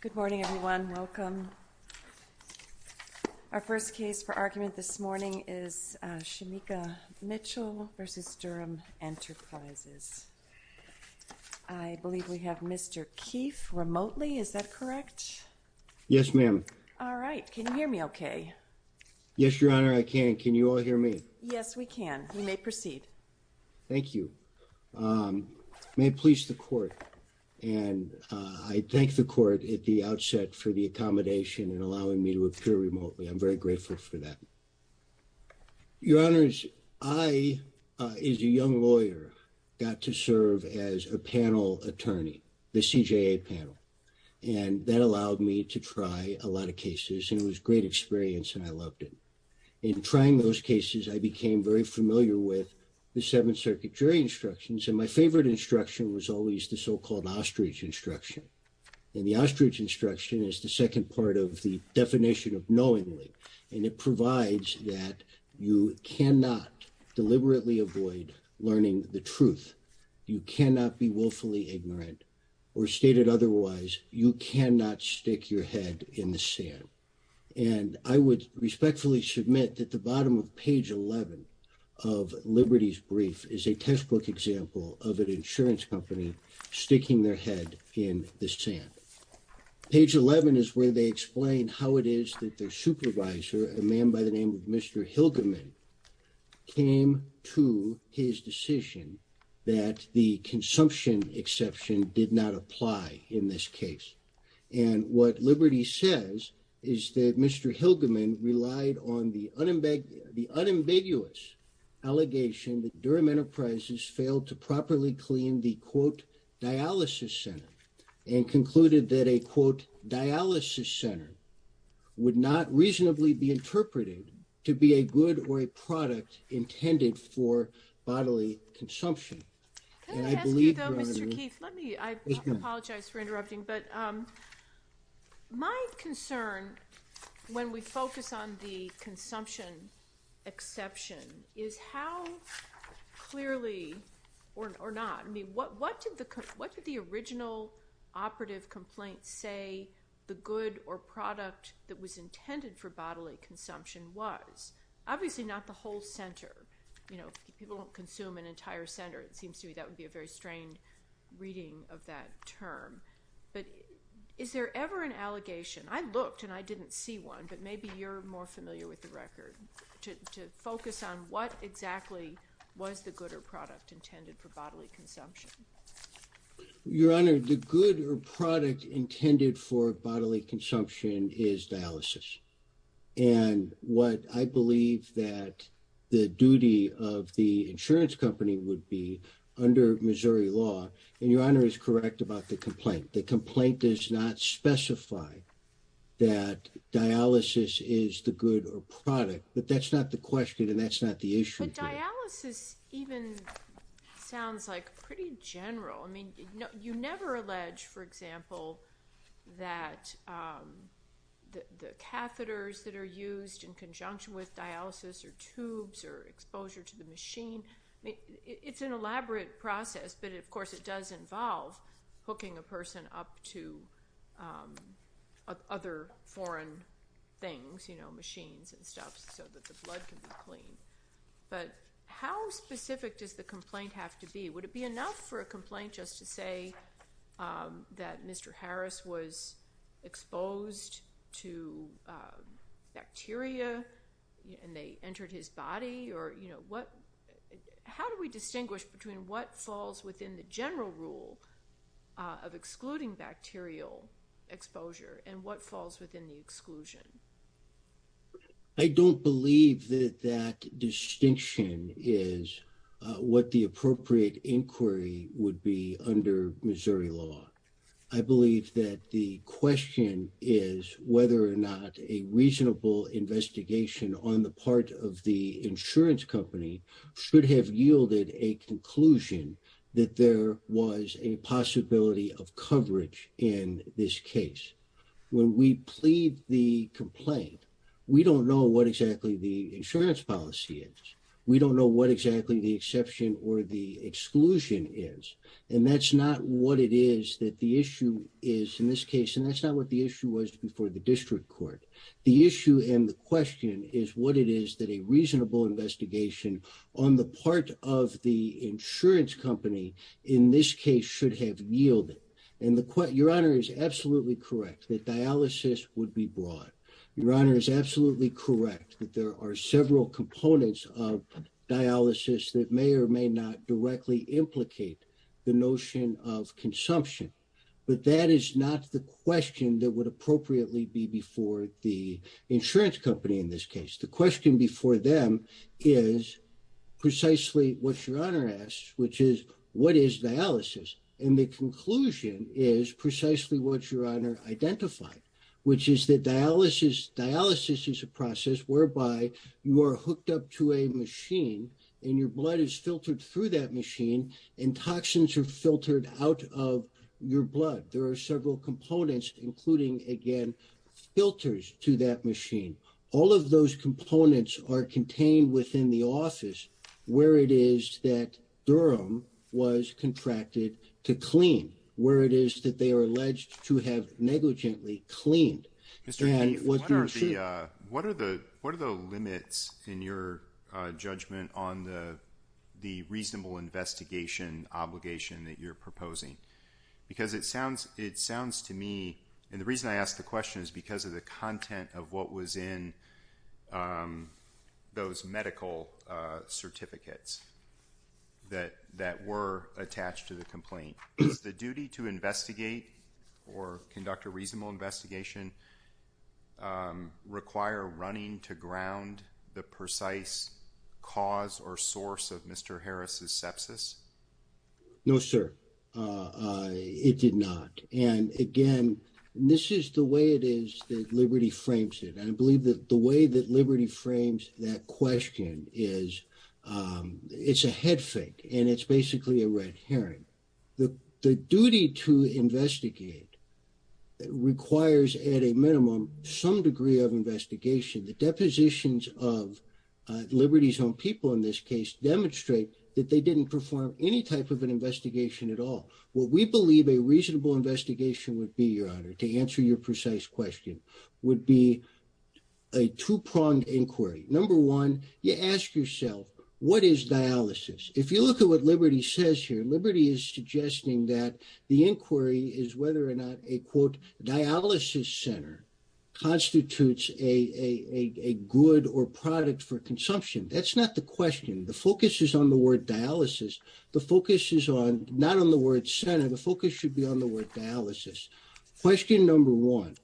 Good morning, everyone. Welcome. Our first case for argument this morning is Shemika Mitchell v. Durham Enterprises. I believe we have Mr. Keefe remotely. Is that correct? Yes, ma'am. All right. Can you hear me okay? Yes, Your Honor, I can. Can you all hear me? Yes, we can. You may proceed. Thank you. May it please the Court. And I thank the Court at the outset for the accommodation and allowing me to appear remotely. I'm very grateful for that. Your Honors, I, as a young lawyer, got to serve as a panel attorney, the CJA panel. And that allowed me to try a lot of cases, and it was a great experience, and I loved it. In trying those cases, I became very familiar with the Seventh Circuit jury instructions. And my favorite instruction was always the so-called ostrich instruction. And the ostrich instruction is the second part of the definition of knowingly. And it provides that you cannot deliberately avoid learning the truth. You cannot be willfully ignorant or stated otherwise. You cannot stick your head in the sand. And I would respectfully submit that the bottom of page 11 of Liberty's brief is a textbook example of an insurance company sticking their head in the sand. Page 11 is where they explain how it is that their supervisor, a man by the name of Mr. Hilgerman, came to his decision that the consumption exception did not apply in this case. And what Liberty says is that Mr. Hilgerman relied on the unambiguous allegation that Durham Enterprises failed to properly clean the, quote, dialysis center, and concluded that a, quote, dialysis center would not reasonably be interpreted to be a good or a product intended for bodily consumption. Can I ask you, though, Mr. Keith, let me, I apologize for interrupting, but my concern when we focus on the consumption exception is how clearly, or not, I mean, what did the original operative complaint say the good or product that was intended for bodily consumption was? Obviously not the whole center. You know, if people don't consume an entire center, it seems to me that would be a very strained reading of that term. But is there ever an allegation, I looked and I didn't see one, but maybe you're more familiar with the record, to focus on what exactly was the good or product intended for bodily consumption? Your Honor, the good or product intended for bodily consumption is dialysis. And what I believe that the duty of the insurance company would be under Missouri law, and Your Honor is correct about the complaint, the complaint does not specify that dialysis is the good or product, but that's not the question and that's not the issue. But dialysis even sounds like pretty general. I mean, you never allege, for example, that the catheters that are used in conjunction with dialysis or tubes or exposure to the machine, it's an elaborate process, but of course it does involve hooking a person up to other foreign things, you know, machines and stuff so that the blood can be clean. But how specific does the complaint have to be? Would it be enough for a complaint just to say that Mr. Harris was exposed to bacteria and they entered his body? Or, you know, how do we distinguish between what falls within the general rule of excluding bacterial exposure and what falls within the exclusion? I don't believe that that distinction is what the appropriate inquiry would be under Missouri law. I believe that the question is whether or not a reasonable investigation on the part of the insurance company should have yielded a conclusion that there was a possibility of coverage in this case. When we plead the complaint, we don't know what exactly the insurance policy is. We don't know what exactly the exception or the exclusion is. And that's not what it is that the issue is in this case. And that's not what the issue was before the district court. The issue and the question is what it is that a reasonable investigation on the part of the insurance company in this case should have yielded. And your honor is absolutely correct that dialysis would be broad. Your honor is absolutely correct that there are several components of dialysis that may or may not directly implicate the notion of consumption. But that is not the question that would appropriately be before the insurance company in this case. The question before them is precisely what your honor asks, which is what is dialysis? And the conclusion is precisely what your honor identified, which is that dialysis is a process whereby you are hooked up to a machine and your blood is filtered through that machine and toxins are filtered out of your blood. There are several components including, again, filters to that machine. All of those components are contained within the office where it is that Durham was contracted to clean where it is that they are alleged to have negligently cleaned. What are the limits in your judgment on the reasonable investigation obligation that you're proposing? Because it sounds to me, and the reason I ask the question is because of the content of what was in those medical certificates that were attached to the complaint. Is the duty to investigate or conduct a reasonable investigation require running to ground the precise cause or source of Mr. Harris's sepsis? No, sir. It did not. And again, this is the way it is that Liberty frames it. I believe that the way that Liberty frames that question is it's a head fake and it's basically a red herring. The duty to investigate requires at a minimum some degree of investigation. The depositions of Liberty's own people in this case demonstrate that they didn't perform any type of an investigation at all. What we believe a reasonable investigation would be, Your Honor, to answer your precise question, would be a two-pronged inquiry. Number one, you ask yourself, what is dialysis? If you look at what Liberty says here, Liberty is suggesting that the inquiry is whether or not a, quote, dialysis center constitutes a good or product for consumption. That's not the question. The focus is on the word dialysis. The focus is on not on the word center. The focus should be on the word dialysis. Question number one,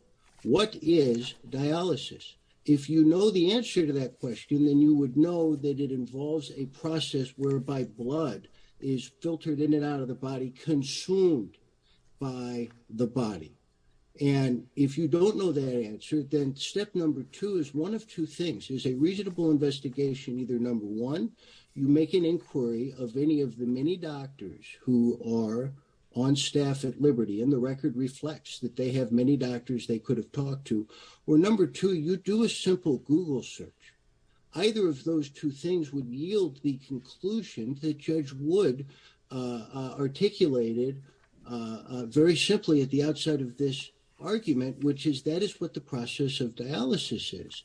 what is dialysis? If you know the answer to that question, then you would know that it involves a process whereby blood is filtered in and out of the body, consumed by the body. And if you don't know that answer, then step number two is one of two things is a reasonable investigation. Either number one, you make an inquiry of any of the many doctors who are on staff at Liberty and the record reflects that they have many doctors they could have talked to. Or number two, you do a simple Google search. And you will find that either of those two things would yield the conclusion that Judge Wood articulated very simply at the outside of this argument, which is that is what the process of dialysis is.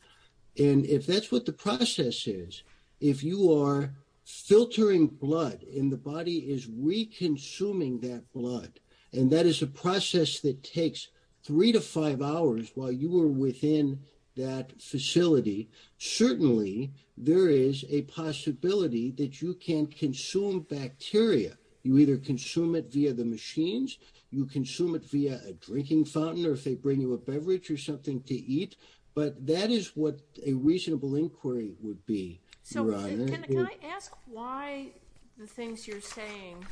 And if that's what the process is, if you are filtering blood and the body is reconsuming that blood, and that is a process that takes three to five hours while you were within that facility. Certainly, there is a possibility that you can consume bacteria. You either consume it via the machines, you consume it via a drinking fountain, or if they bring you a beverage or something to eat. But that is what a reasonable inquiry would be. So can I ask why the things you're saying,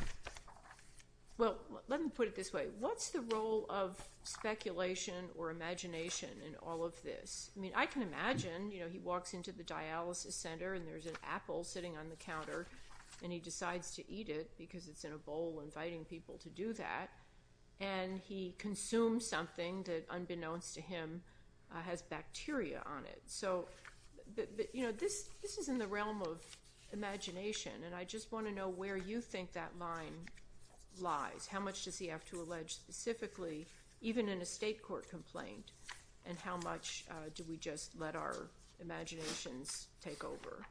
well, let me put it this way. What's the role of speculation or imagination in all of this? I mean, I can imagine, you know, he walks into the dialysis center and there's an apple sitting on the counter and he decides to eat it because it's in a bowl inviting people to do that. And he consumes something that, unbeknownst to him, has bacteria on it. So, you know, this is in the realm of imagination. And I just want to know where you think that line lies. How much does he have to allege specifically, even in a state court complaint? And how much do we just let our imaginations take over?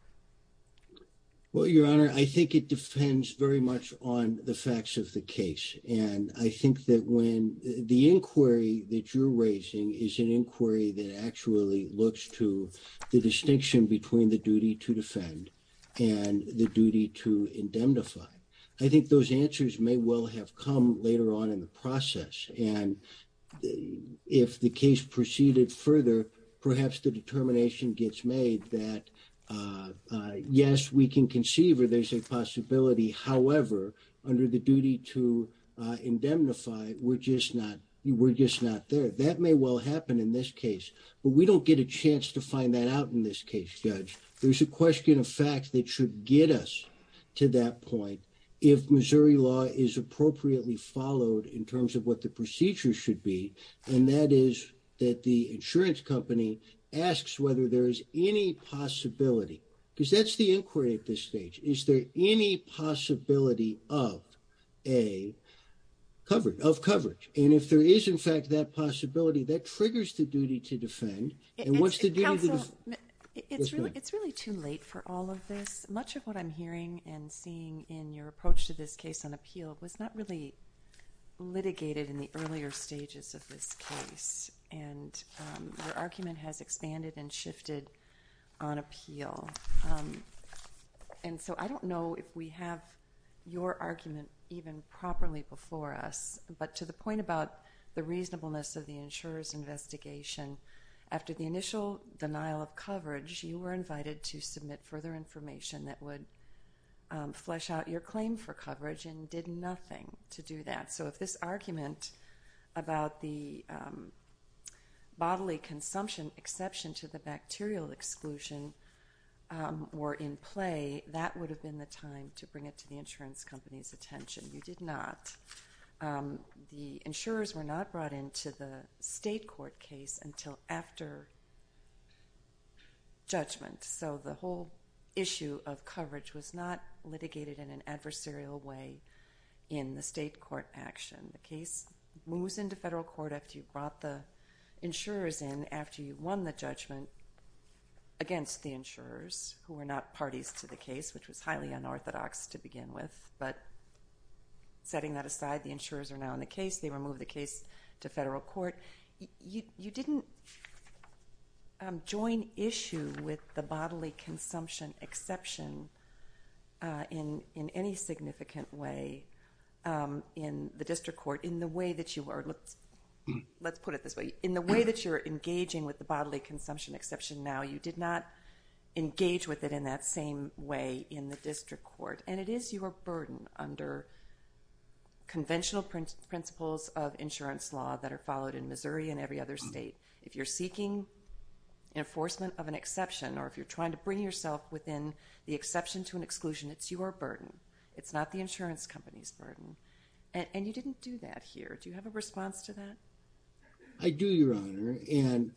Well, Your Honor, I think it depends very much on the facts of the case. And I think that when the inquiry that you're raising is an inquiry that actually looks to the distinction between the duty to defend and the duty to indemnify. I think those answers may well have come later on in the process. And if the case proceeded further, perhaps the determination gets made that, yes, we can conceive or there's a possibility. However, under the duty to indemnify, we're just not there. That may well happen in this case. But we don't get a chance to find that out in this case, Judge. There's a question of fact that should get us to that point if Missouri law is appropriately followed in terms of what the procedure should be. And that is that the insurance company asks whether there is any possibility, because that's the inquiry at this stage. Is there any possibility of a coverage, of coverage? And if there is, in fact, that possibility, that triggers the duty to defend. And what's the duty to defend? It's really too late for all of this. Much of what I'm hearing and seeing in your approach to this case on appeal was not really litigated in the earlier stages of this case. And your argument has expanded and shifted on appeal. And so I don't know if we have your argument even properly before us. But to the point about the reasonableness of the insurer's investigation, after the initial denial of coverage, you were invited to submit further information that would flesh out your claim for coverage and did nothing to do that. So if this argument about the bodily consumption exception to the bacterial exclusion were in play, that would have been the time to bring it to the insurance company's attention. You did not. The insurers were not brought into the state court case until after judgment. So the whole issue of coverage was not litigated in an adversarial way in the state court action. The case moves into federal court after you brought the insurers in after you won the judgment against the insurers, who were not parties to the case, which was highly unorthodox to begin with. But setting that aside, the insurers are now in the case. They remove the case to federal court. You didn't join issue with the bodily consumption exception in any significant way in the district court in the way that you are. Let's put it this way. In the way that you're engaging with the bodily consumption exception now, you did not engage with it in that same way in the district court. And it is your burden under conventional principles of insurance law that are followed in Missouri and every other state. If you're seeking enforcement of an exception or if you're trying to bring yourself within the exception to an exclusion, it's your burden. It's not the insurance company's burden. And you didn't do that here. Do you have a response to that? I do, Your Honor. And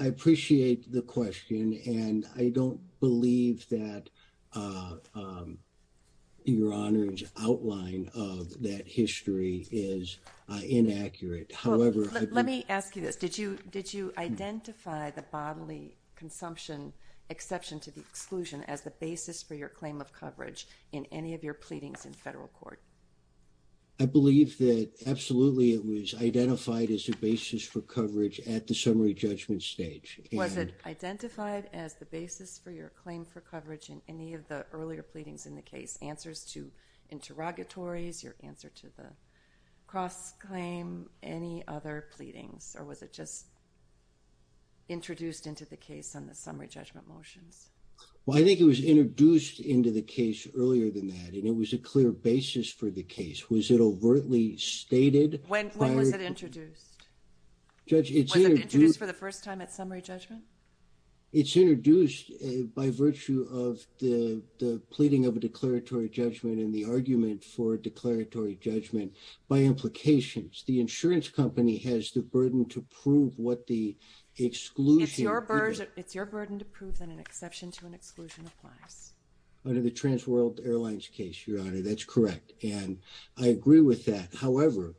I appreciate the question. And I don't believe that Your Honor's outline of that history is inaccurate. Let me ask you this. Did you identify the bodily consumption exception to the exclusion as the basis for your claim of coverage in any of your pleadings in federal court? I believe that absolutely it was identified as a basis for coverage at the summary judgment stage. Was it identified as the basis for your claim for coverage in any of the earlier pleadings in the case? Answers to interrogatories, your answer to the cross-claim, any other pleadings? Or was it just introduced into the case on the summary judgment motions? Well, I think it was introduced into the case earlier than that. And it was a clear basis for the case. Was it overtly stated? When was it introduced? Was it introduced for the first time at summary judgment? It's introduced by virtue of the pleading of a declaratory judgment and the argument for a declaratory judgment by implications. The insurance company has the burden to prove what the exclusion. It's your burden to prove that an exception to an exclusion applies. Under the Transworld Airlines case, Your Honor, that's correct. And I agree with that. However,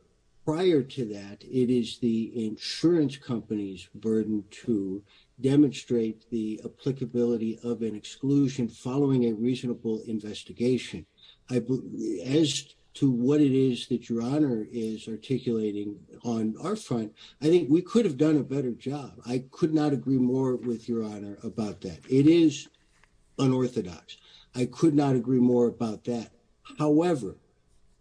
prior to that, it is the insurance company's burden to demonstrate the applicability of an exclusion following a reasonable investigation. As to what it is that Your Honor is articulating on our front, I think we could have done a better job. I could not agree more with Your Honor about that. It is unorthodox. I could not agree more about that. However,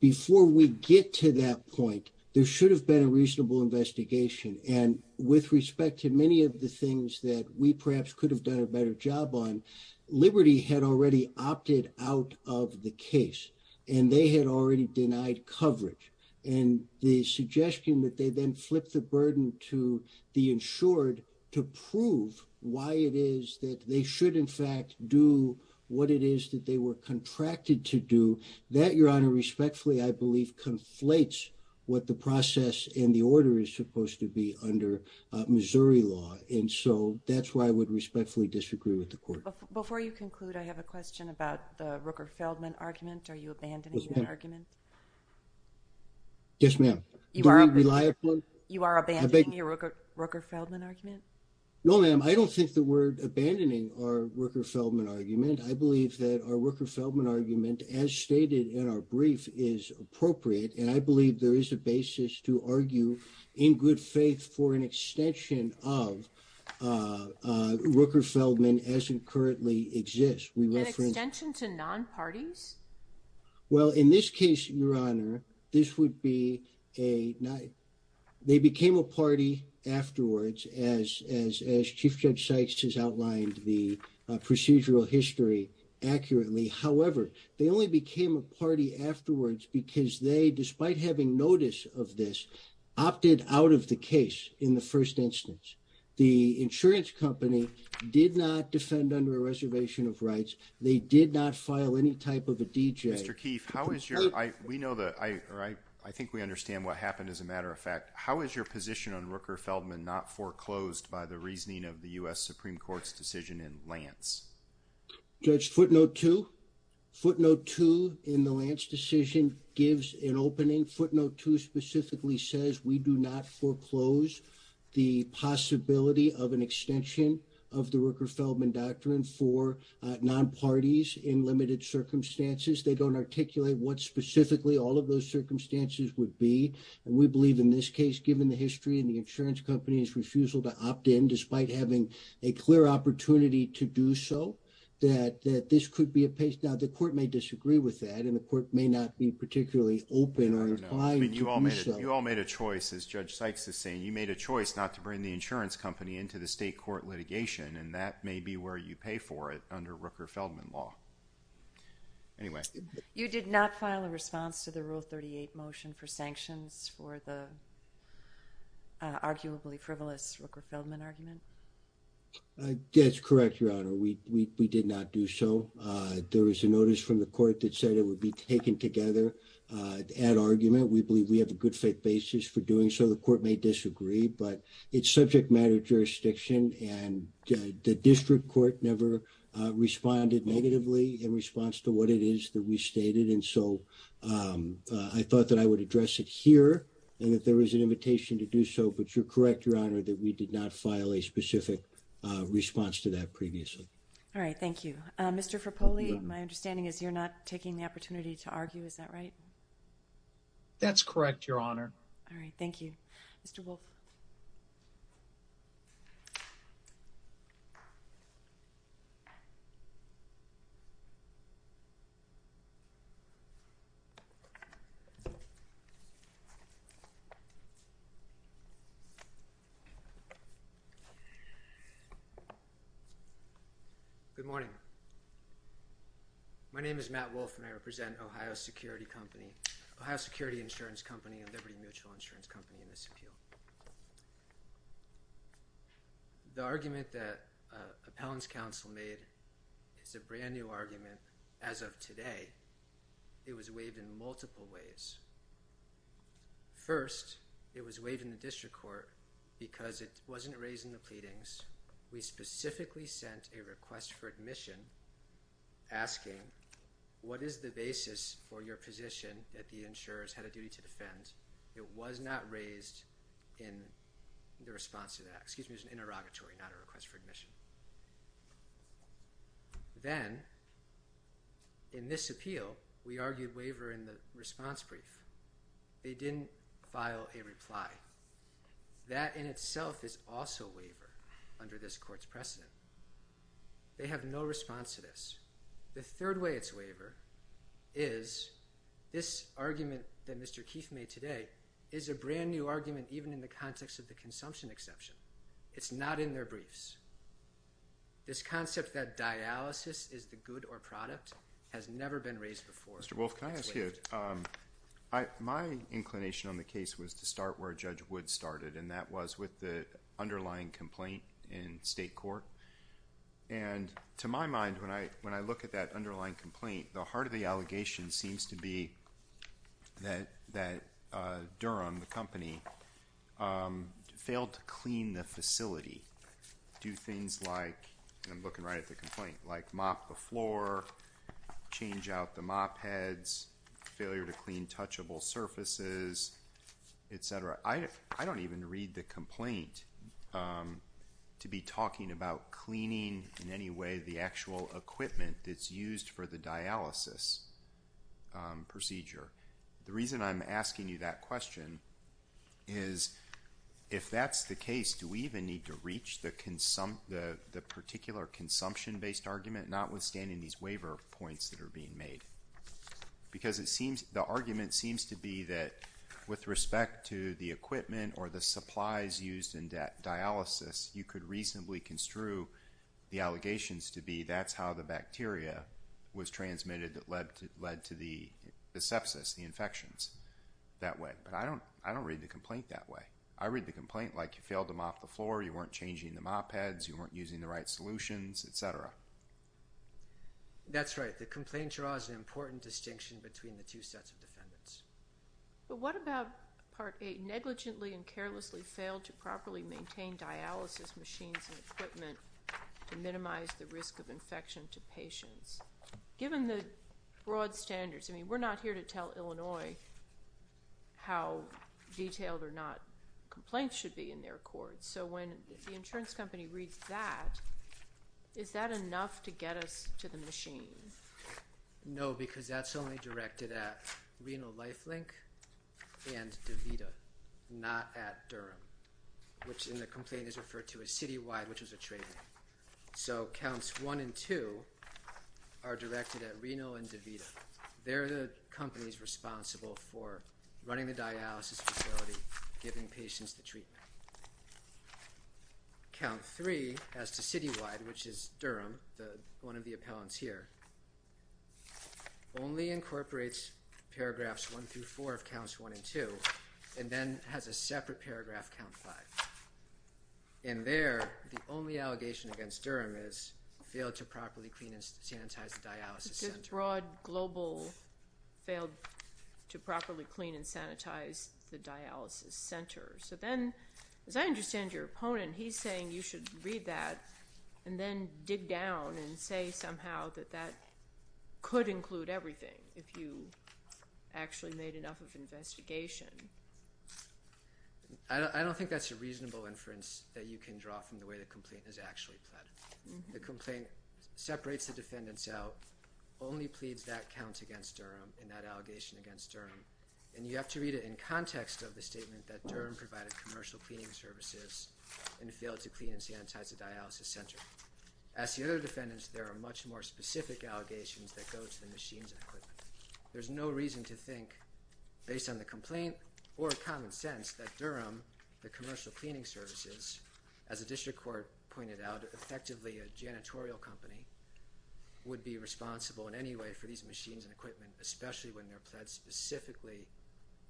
before we get to that point, there should have been a reasonable investigation. And with respect to many of the things that we perhaps could have done a better job on, Liberty had already opted out of the case. And they had already denied coverage. And the suggestion that they then flip the burden to the insured to prove why it is that they should in fact do what it is that they were contracted to do, that, Your Honor, respectfully, I believe, conflates what the process and the order is supposed to be under Missouri law. And so that's why I would respectfully disagree with the court. Before you conclude, I have a question about the Rooker-Feldman argument. Are you abandoning that argument? Yes, ma'am. You are abandoning your Rooker-Feldman argument? No, ma'am. I don't think that we're abandoning our Rooker-Feldman argument. I believe that our Rooker-Feldman argument, as stated in our brief, is appropriate. And I believe there is a basis to argue in good faith for an extension of Rooker-Feldman as it currently exists. An extension to non-parties? Well, in this case, Your Honor, this would be a – they became a party afterwards, as Chief Judge Sykes has outlined the procedural history accurately. However, they only became a party afterwards because they, despite having notice of this, opted out of the case in the first instance. The insurance company did not defend under a reservation of rights. They did not file any type of a DJ. Mr. Keefe, how is your – we know the – or I think we understand what happened, as a matter of fact. How is your position on Rooker-Feldman not foreclosed by the reasoning of the U.S. Supreme Court's decision in Lance? Judge, footnote two. Footnote two in the Lance decision gives an opening. Footnote two specifically says we do not foreclose the possibility of an extension of the Rooker-Feldman doctrine for non-parties in limited circumstances. They don't articulate what specifically all of those circumstances would be. And we believe in this case, given the history and the insurance company's refusal to opt in, despite having a clear opportunity to do so, that this could be a – now, the court may disagree with that, and the court may not be particularly open or inclined to do so. You all made a choice, as Judge Sykes is saying. You made a choice not to bring the insurance company into the state court litigation, and that may be where you pay for it under Rooker-Feldman law. Anyway. You did not file a response to the Rule 38 motion for sanctions for the arguably frivolous Rooker-Feldman argument? That's correct, Your Honor. We did not do so. There was a notice from the court that said it would be taken together at argument. We believe we have a good faith basis for doing so. The court may disagree, but it's subject matter jurisdiction, and the district court never responded negatively in response to what it is that we stated. And so I thought that I would address it here and that there was an invitation to do so. But you're correct, Your Honor, that we did not file a specific response to that previously. All right. Thank you. Mr. Frappoli, my understanding is you're not taking the opportunity to argue. Is that right? That's correct, Your Honor. All right. Thank you. Mr. Wolff. Good morning. My name is Matt Wolff, and I represent Ohio Security Company, a liberty mutual insurance company in this appeal. The argument that appellant's counsel made is a brand-new argument as of today. It was waived in multiple ways. First, it was waived in the district court because it wasn't raising the pleadings. We specifically sent a request for admission asking, what is the basis for your position that the insurers had a duty to defend? It was not raised in the response to that. Excuse me, it was an interrogatory, not a request for admission. Then, in this appeal, we argued waiver in the response brief. They didn't file a reply. That, in itself, is also waiver under this court's precedent. They have no response to this. The third way it's waiver is this argument that Mr. Keefe made today is a brand-new argument even in the context of the consumption exception. It's not in their briefs. This concept that dialysis is the good or product has never been raised before. Mr. Wolff, can I ask you, my inclination on the case was to start where Judge Wood started, and that was with the underlying complaint in state court. To my mind, when I look at that underlying complaint, the heart of the allegation seems to be that Durham, the company, failed to clean the facility, do things like, I'm looking right at the complaint, like mop the floor, change out the mop heads, failure to clean touchable surfaces, et cetera. I don't even read the complaint to be talking about cleaning, in any way, the actual equipment that's used for the dialysis procedure. The reason I'm asking you that question is, if that's the case, do we even need to reach the particular consumption-based argument, notwithstanding these waiver points that are being made? Because the argument seems to be that, with respect to the equipment or the supplies used in dialysis, you could reasonably construe the allegations to be, that's how the bacteria was transmitted that led to the sepsis, the infections, that way. But I don't read the complaint that way. I read the complaint like you failed to mop the floor, you weren't changing the mop heads, you weren't using the right solutions, et cetera. That's right. The complaint draws an important distinction between the two sets of defendants. But what about Part 8, negligently and carelessly failed to properly maintain dialysis machines and equipment to minimize the risk of infection to patients? Given the broad standards, I mean, we're not here to tell Illinois how detailed or not complaints should be in their courts. So when the insurance company reads that, is that enough to get us to the machine? No, because that's only directed at Reno LifeLink and DaVita, not at Durham, which in the complaint is referred to as citywide, which was a trade-off. So counts 1 and 2 are directed at Reno and DaVita. They're the companies responsible for running the dialysis facility, giving patients the treatment. Count 3 as to citywide, which is Durham, one of the appellants here, only incorporates paragraphs 1 through 4 of counts 1 and 2 and then has a separate paragraph, count 5. In there, the only allegation against Durham is failed to properly clean and sanitize the dialysis center. Broad, global, failed to properly clean and sanitize the dialysis center. So then, as I understand your opponent, he's saying you should read that and then dig down and say somehow that that could include everything if you actually made enough of an investigation. I don't think that's a reasonable inference that you can draw from the way the complaint is actually plotted. The complaint separates the defendants out, only pleads that count against Durham and that allegation against Durham, and you have to read it in context of the statement that Durham provided commercial cleaning services and failed to clean and sanitize the dialysis center. As the other defendants, there are much more specific allegations that go to the machines and equipment. There's no reason to think, based on the complaint or common sense, that Durham, the commercial cleaning services, as the district court pointed out, effectively a janitorial company, would be responsible in any way for these machines and equipment, especially when they're pledged specifically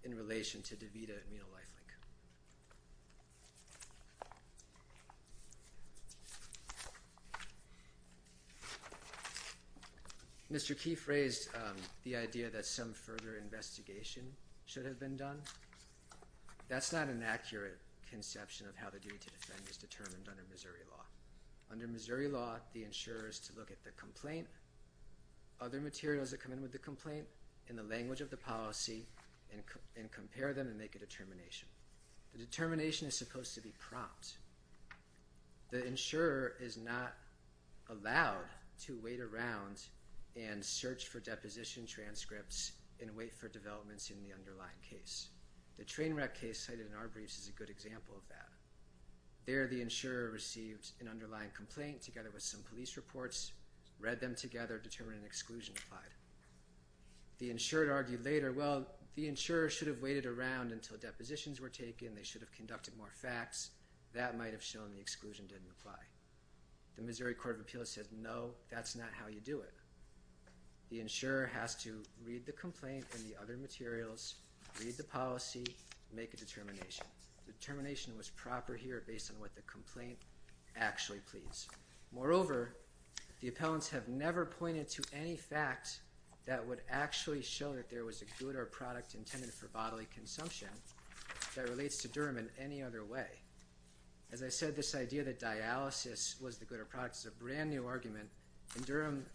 in relation to DaVita and Menal Life Link. Mr. Keefe raised the idea that some further investigation should have been done. That's not an accurate conception of how the duty to defend is determined under Missouri law. Under Missouri law, the insurer is to look at the complaint, other materials that come in with the complaint, and the language of the policy and compare them and make a determination. The determination is supposed to be prompt. The insurer is not allowed to wait around and search for deposition transcripts and wait for developments in the underlying case. The train wreck case cited in our briefs is a good example of that. There, the insurer received an underlying complaint together with some police reports, read them together, determined an exclusion applied. The insured argued later, well, the insurer should have waited around until depositions were taken. They should have conducted more facts. That might have shown the exclusion didn't apply. The Missouri Court of Appeals said, no, that's not how you do it. The insurer has to read the complaint and the other materials, read the policy, make a determination. The determination was proper here based on what the complaint actually pleads. Moreover, the appellants have never pointed to any fact that would actually show that there was a good or product intended for bodily consumption that relates to Durham in any other way. As I said, this idea that dialysis was the good or product is a brand new argument. And Durham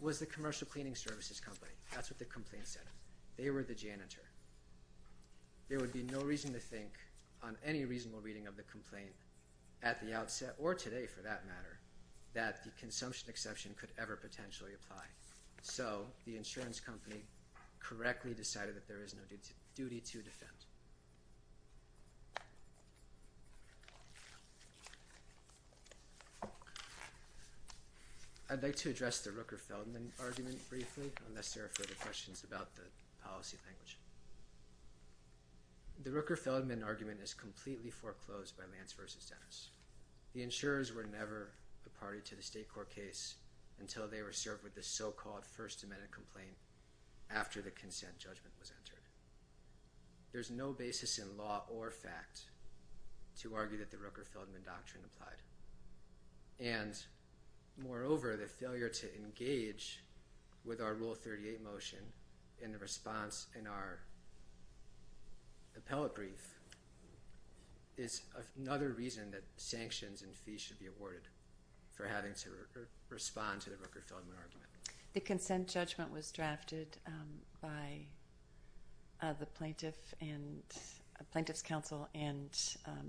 was the commercial cleaning services company. That's what the complaint said. They were the janitor. There would be no reason to think on any reasonable reading of the complaint at the outset, or today for that matter, that the consumption exception could ever potentially apply. So the insurance company correctly decided that there is no duty to defend. I'd like to address the Rooker-Feldman argument briefly unless there are further questions about the policy language. The Rooker-Feldman argument is completely foreclosed by Lance v. Dennis. The insurers were never a party to the state court case until they were served with the so-called First Amendment complaint after the consent judgment was entered. There's no basis in law or fact to argue that the Rooker-Feldman doctrine applied. And moreover, the failure to engage with our Rule 38 motion in the response in our appellate brief is another reason that sanctions and fees should be awarded for having to respond to the Rooker-Feldman argument. The consent judgment was drafted by the plaintiff's counsel and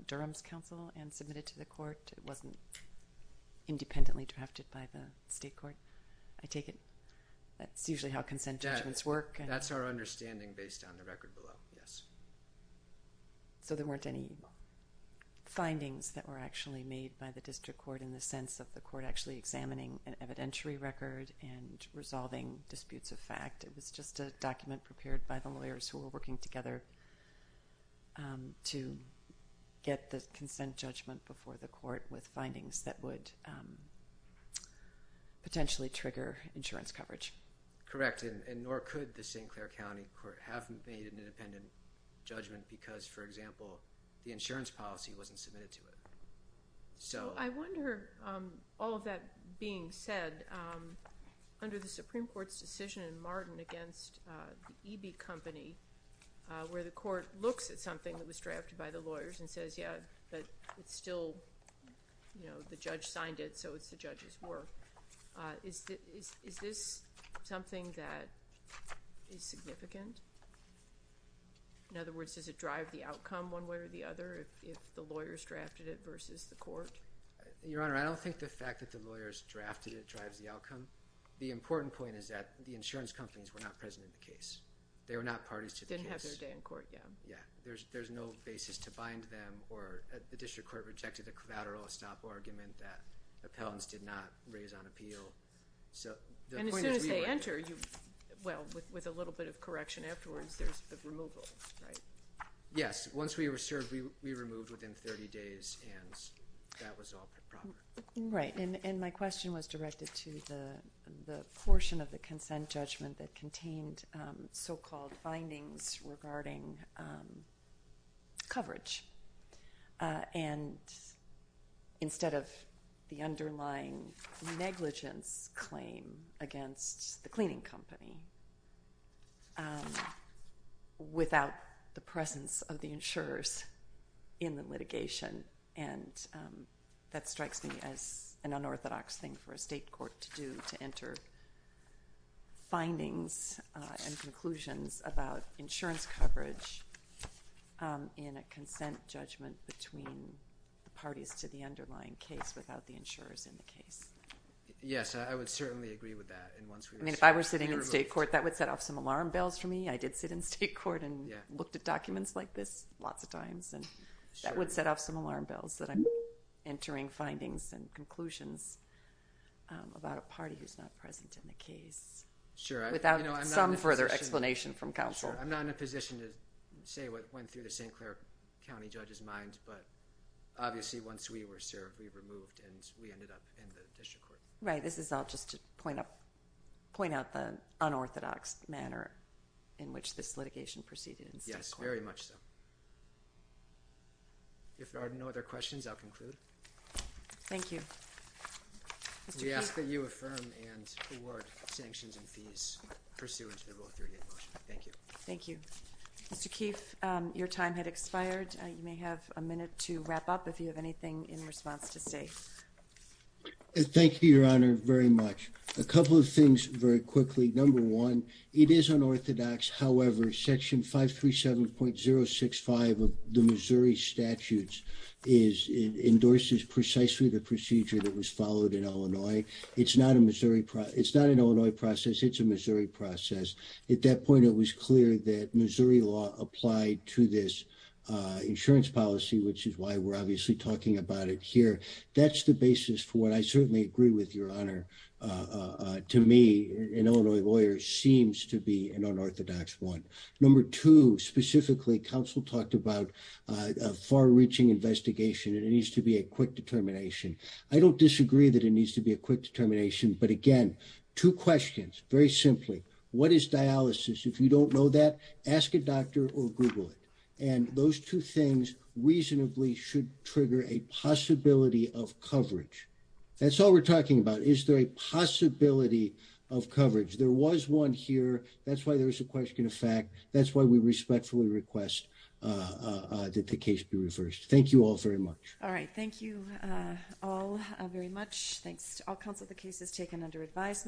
Durham's counsel and submitted to the court. It wasn't independently drafted by the state court. I take it that's usually how consent judgments work. That's our understanding based on the record below, yes. So there weren't any findings that were actually made by the district court in the sense of the court actually examining an evidentiary record and resolving disputes of fact. It was just a document prepared by the lawyers who were working together to get the consent judgment before the court with findings that would potentially trigger insurance coverage. Correct, and nor could the St. Clair County Court have made an independent judgment because, for example, the insurance policy wasn't submitted to it. I wonder, all of that being said, under the Supreme Court's decision in Martin against the EB company, where the court looks at something that was drafted by the lawyers and says, yeah, but it's still, you know, the judge signed it, so it's the judge's work. Is this something that is significant? In other words, does it drive the outcome one way or the other if the lawyers drafted it versus the court? Your Honor, I don't think the fact that the lawyers drafted it drives the outcome. The important point is that the insurance companies were not present in the case. They were not parties to the case. Didn't have their day in court, yeah. Yeah. There's no basis to bind them, or the district court rejected the collateral stop argument that appellants did not raise on appeal. And as soon as they enter, well, with a little bit of correction afterwards, there's the removal, right? Yes. Once we were served, we removed within 30 days, and that was all proper. Right. And my question was directed to the portion of the consent judgment that contained so-called findings regarding coverage, and instead of the underlying negligence claim against the cleaning company without the presence of the insurers in the litigation. And that strikes me as an unorthodox thing for a state court to do, to enter findings and conclusions about insurance coverage in a consent judgment between the parties to the underlying case without the insurers in the case. Yes, I would certainly agree with that. I mean, if I were sitting in state court, that would set off some alarm bells for me. I did sit in state court and looked at documents like this lots of times, and that would set off some alarm bells that I'm entering findings and conclusions about a party who's not present in the case. Sure. Without some further explanation from counsel. Sure. I'm not in a position to say what went through the St. Clair County judge's mind, but obviously once we were served, we removed, and we ended up in the district court. Right. This is all just to point out the unorthodox manner in which this litigation proceeded in state court. Yes, very much so. If there are no other questions, I'll conclude. Thank you. Mr. Keefe. We ask that you affirm and award sanctions and fees pursuant to the Rule 38 motion. Thank you. Thank you. Mr. Keefe, your time had expired. You may have a minute to wrap up if you have anything in response to state. Thank you, Your Honor, very much. A couple of things very quickly. Number one, it is unorthodox. However, Section 537.065 of the Missouri statutes endorses precisely the procedure that was followed in Illinois. It's not an Illinois process. It's a Missouri process. At that point, it was clear that Missouri law applied to this insurance policy, which is why we're obviously talking about it here. That's the basis for what I certainly agree with, Your Honor. To me, an Illinois lawyer seems to be an unorthodox one. Number two, specifically, counsel talked about a far-reaching investigation, and it needs to be a quick determination. I don't disagree that it needs to be a quick determination. But, again, two questions, very simply. What is dialysis? If you don't know that, ask a doctor or Google it. And those two things reasonably should trigger a possibility of coverage. That's all we're talking about. Is there a possibility of coverage? There was one here. That's why there was a question of fact. That's why we respectfully request that the case be reversed. Thank you all very much. All right. Thank you all very much. Thanks to all counsel. The case is taken under advisement.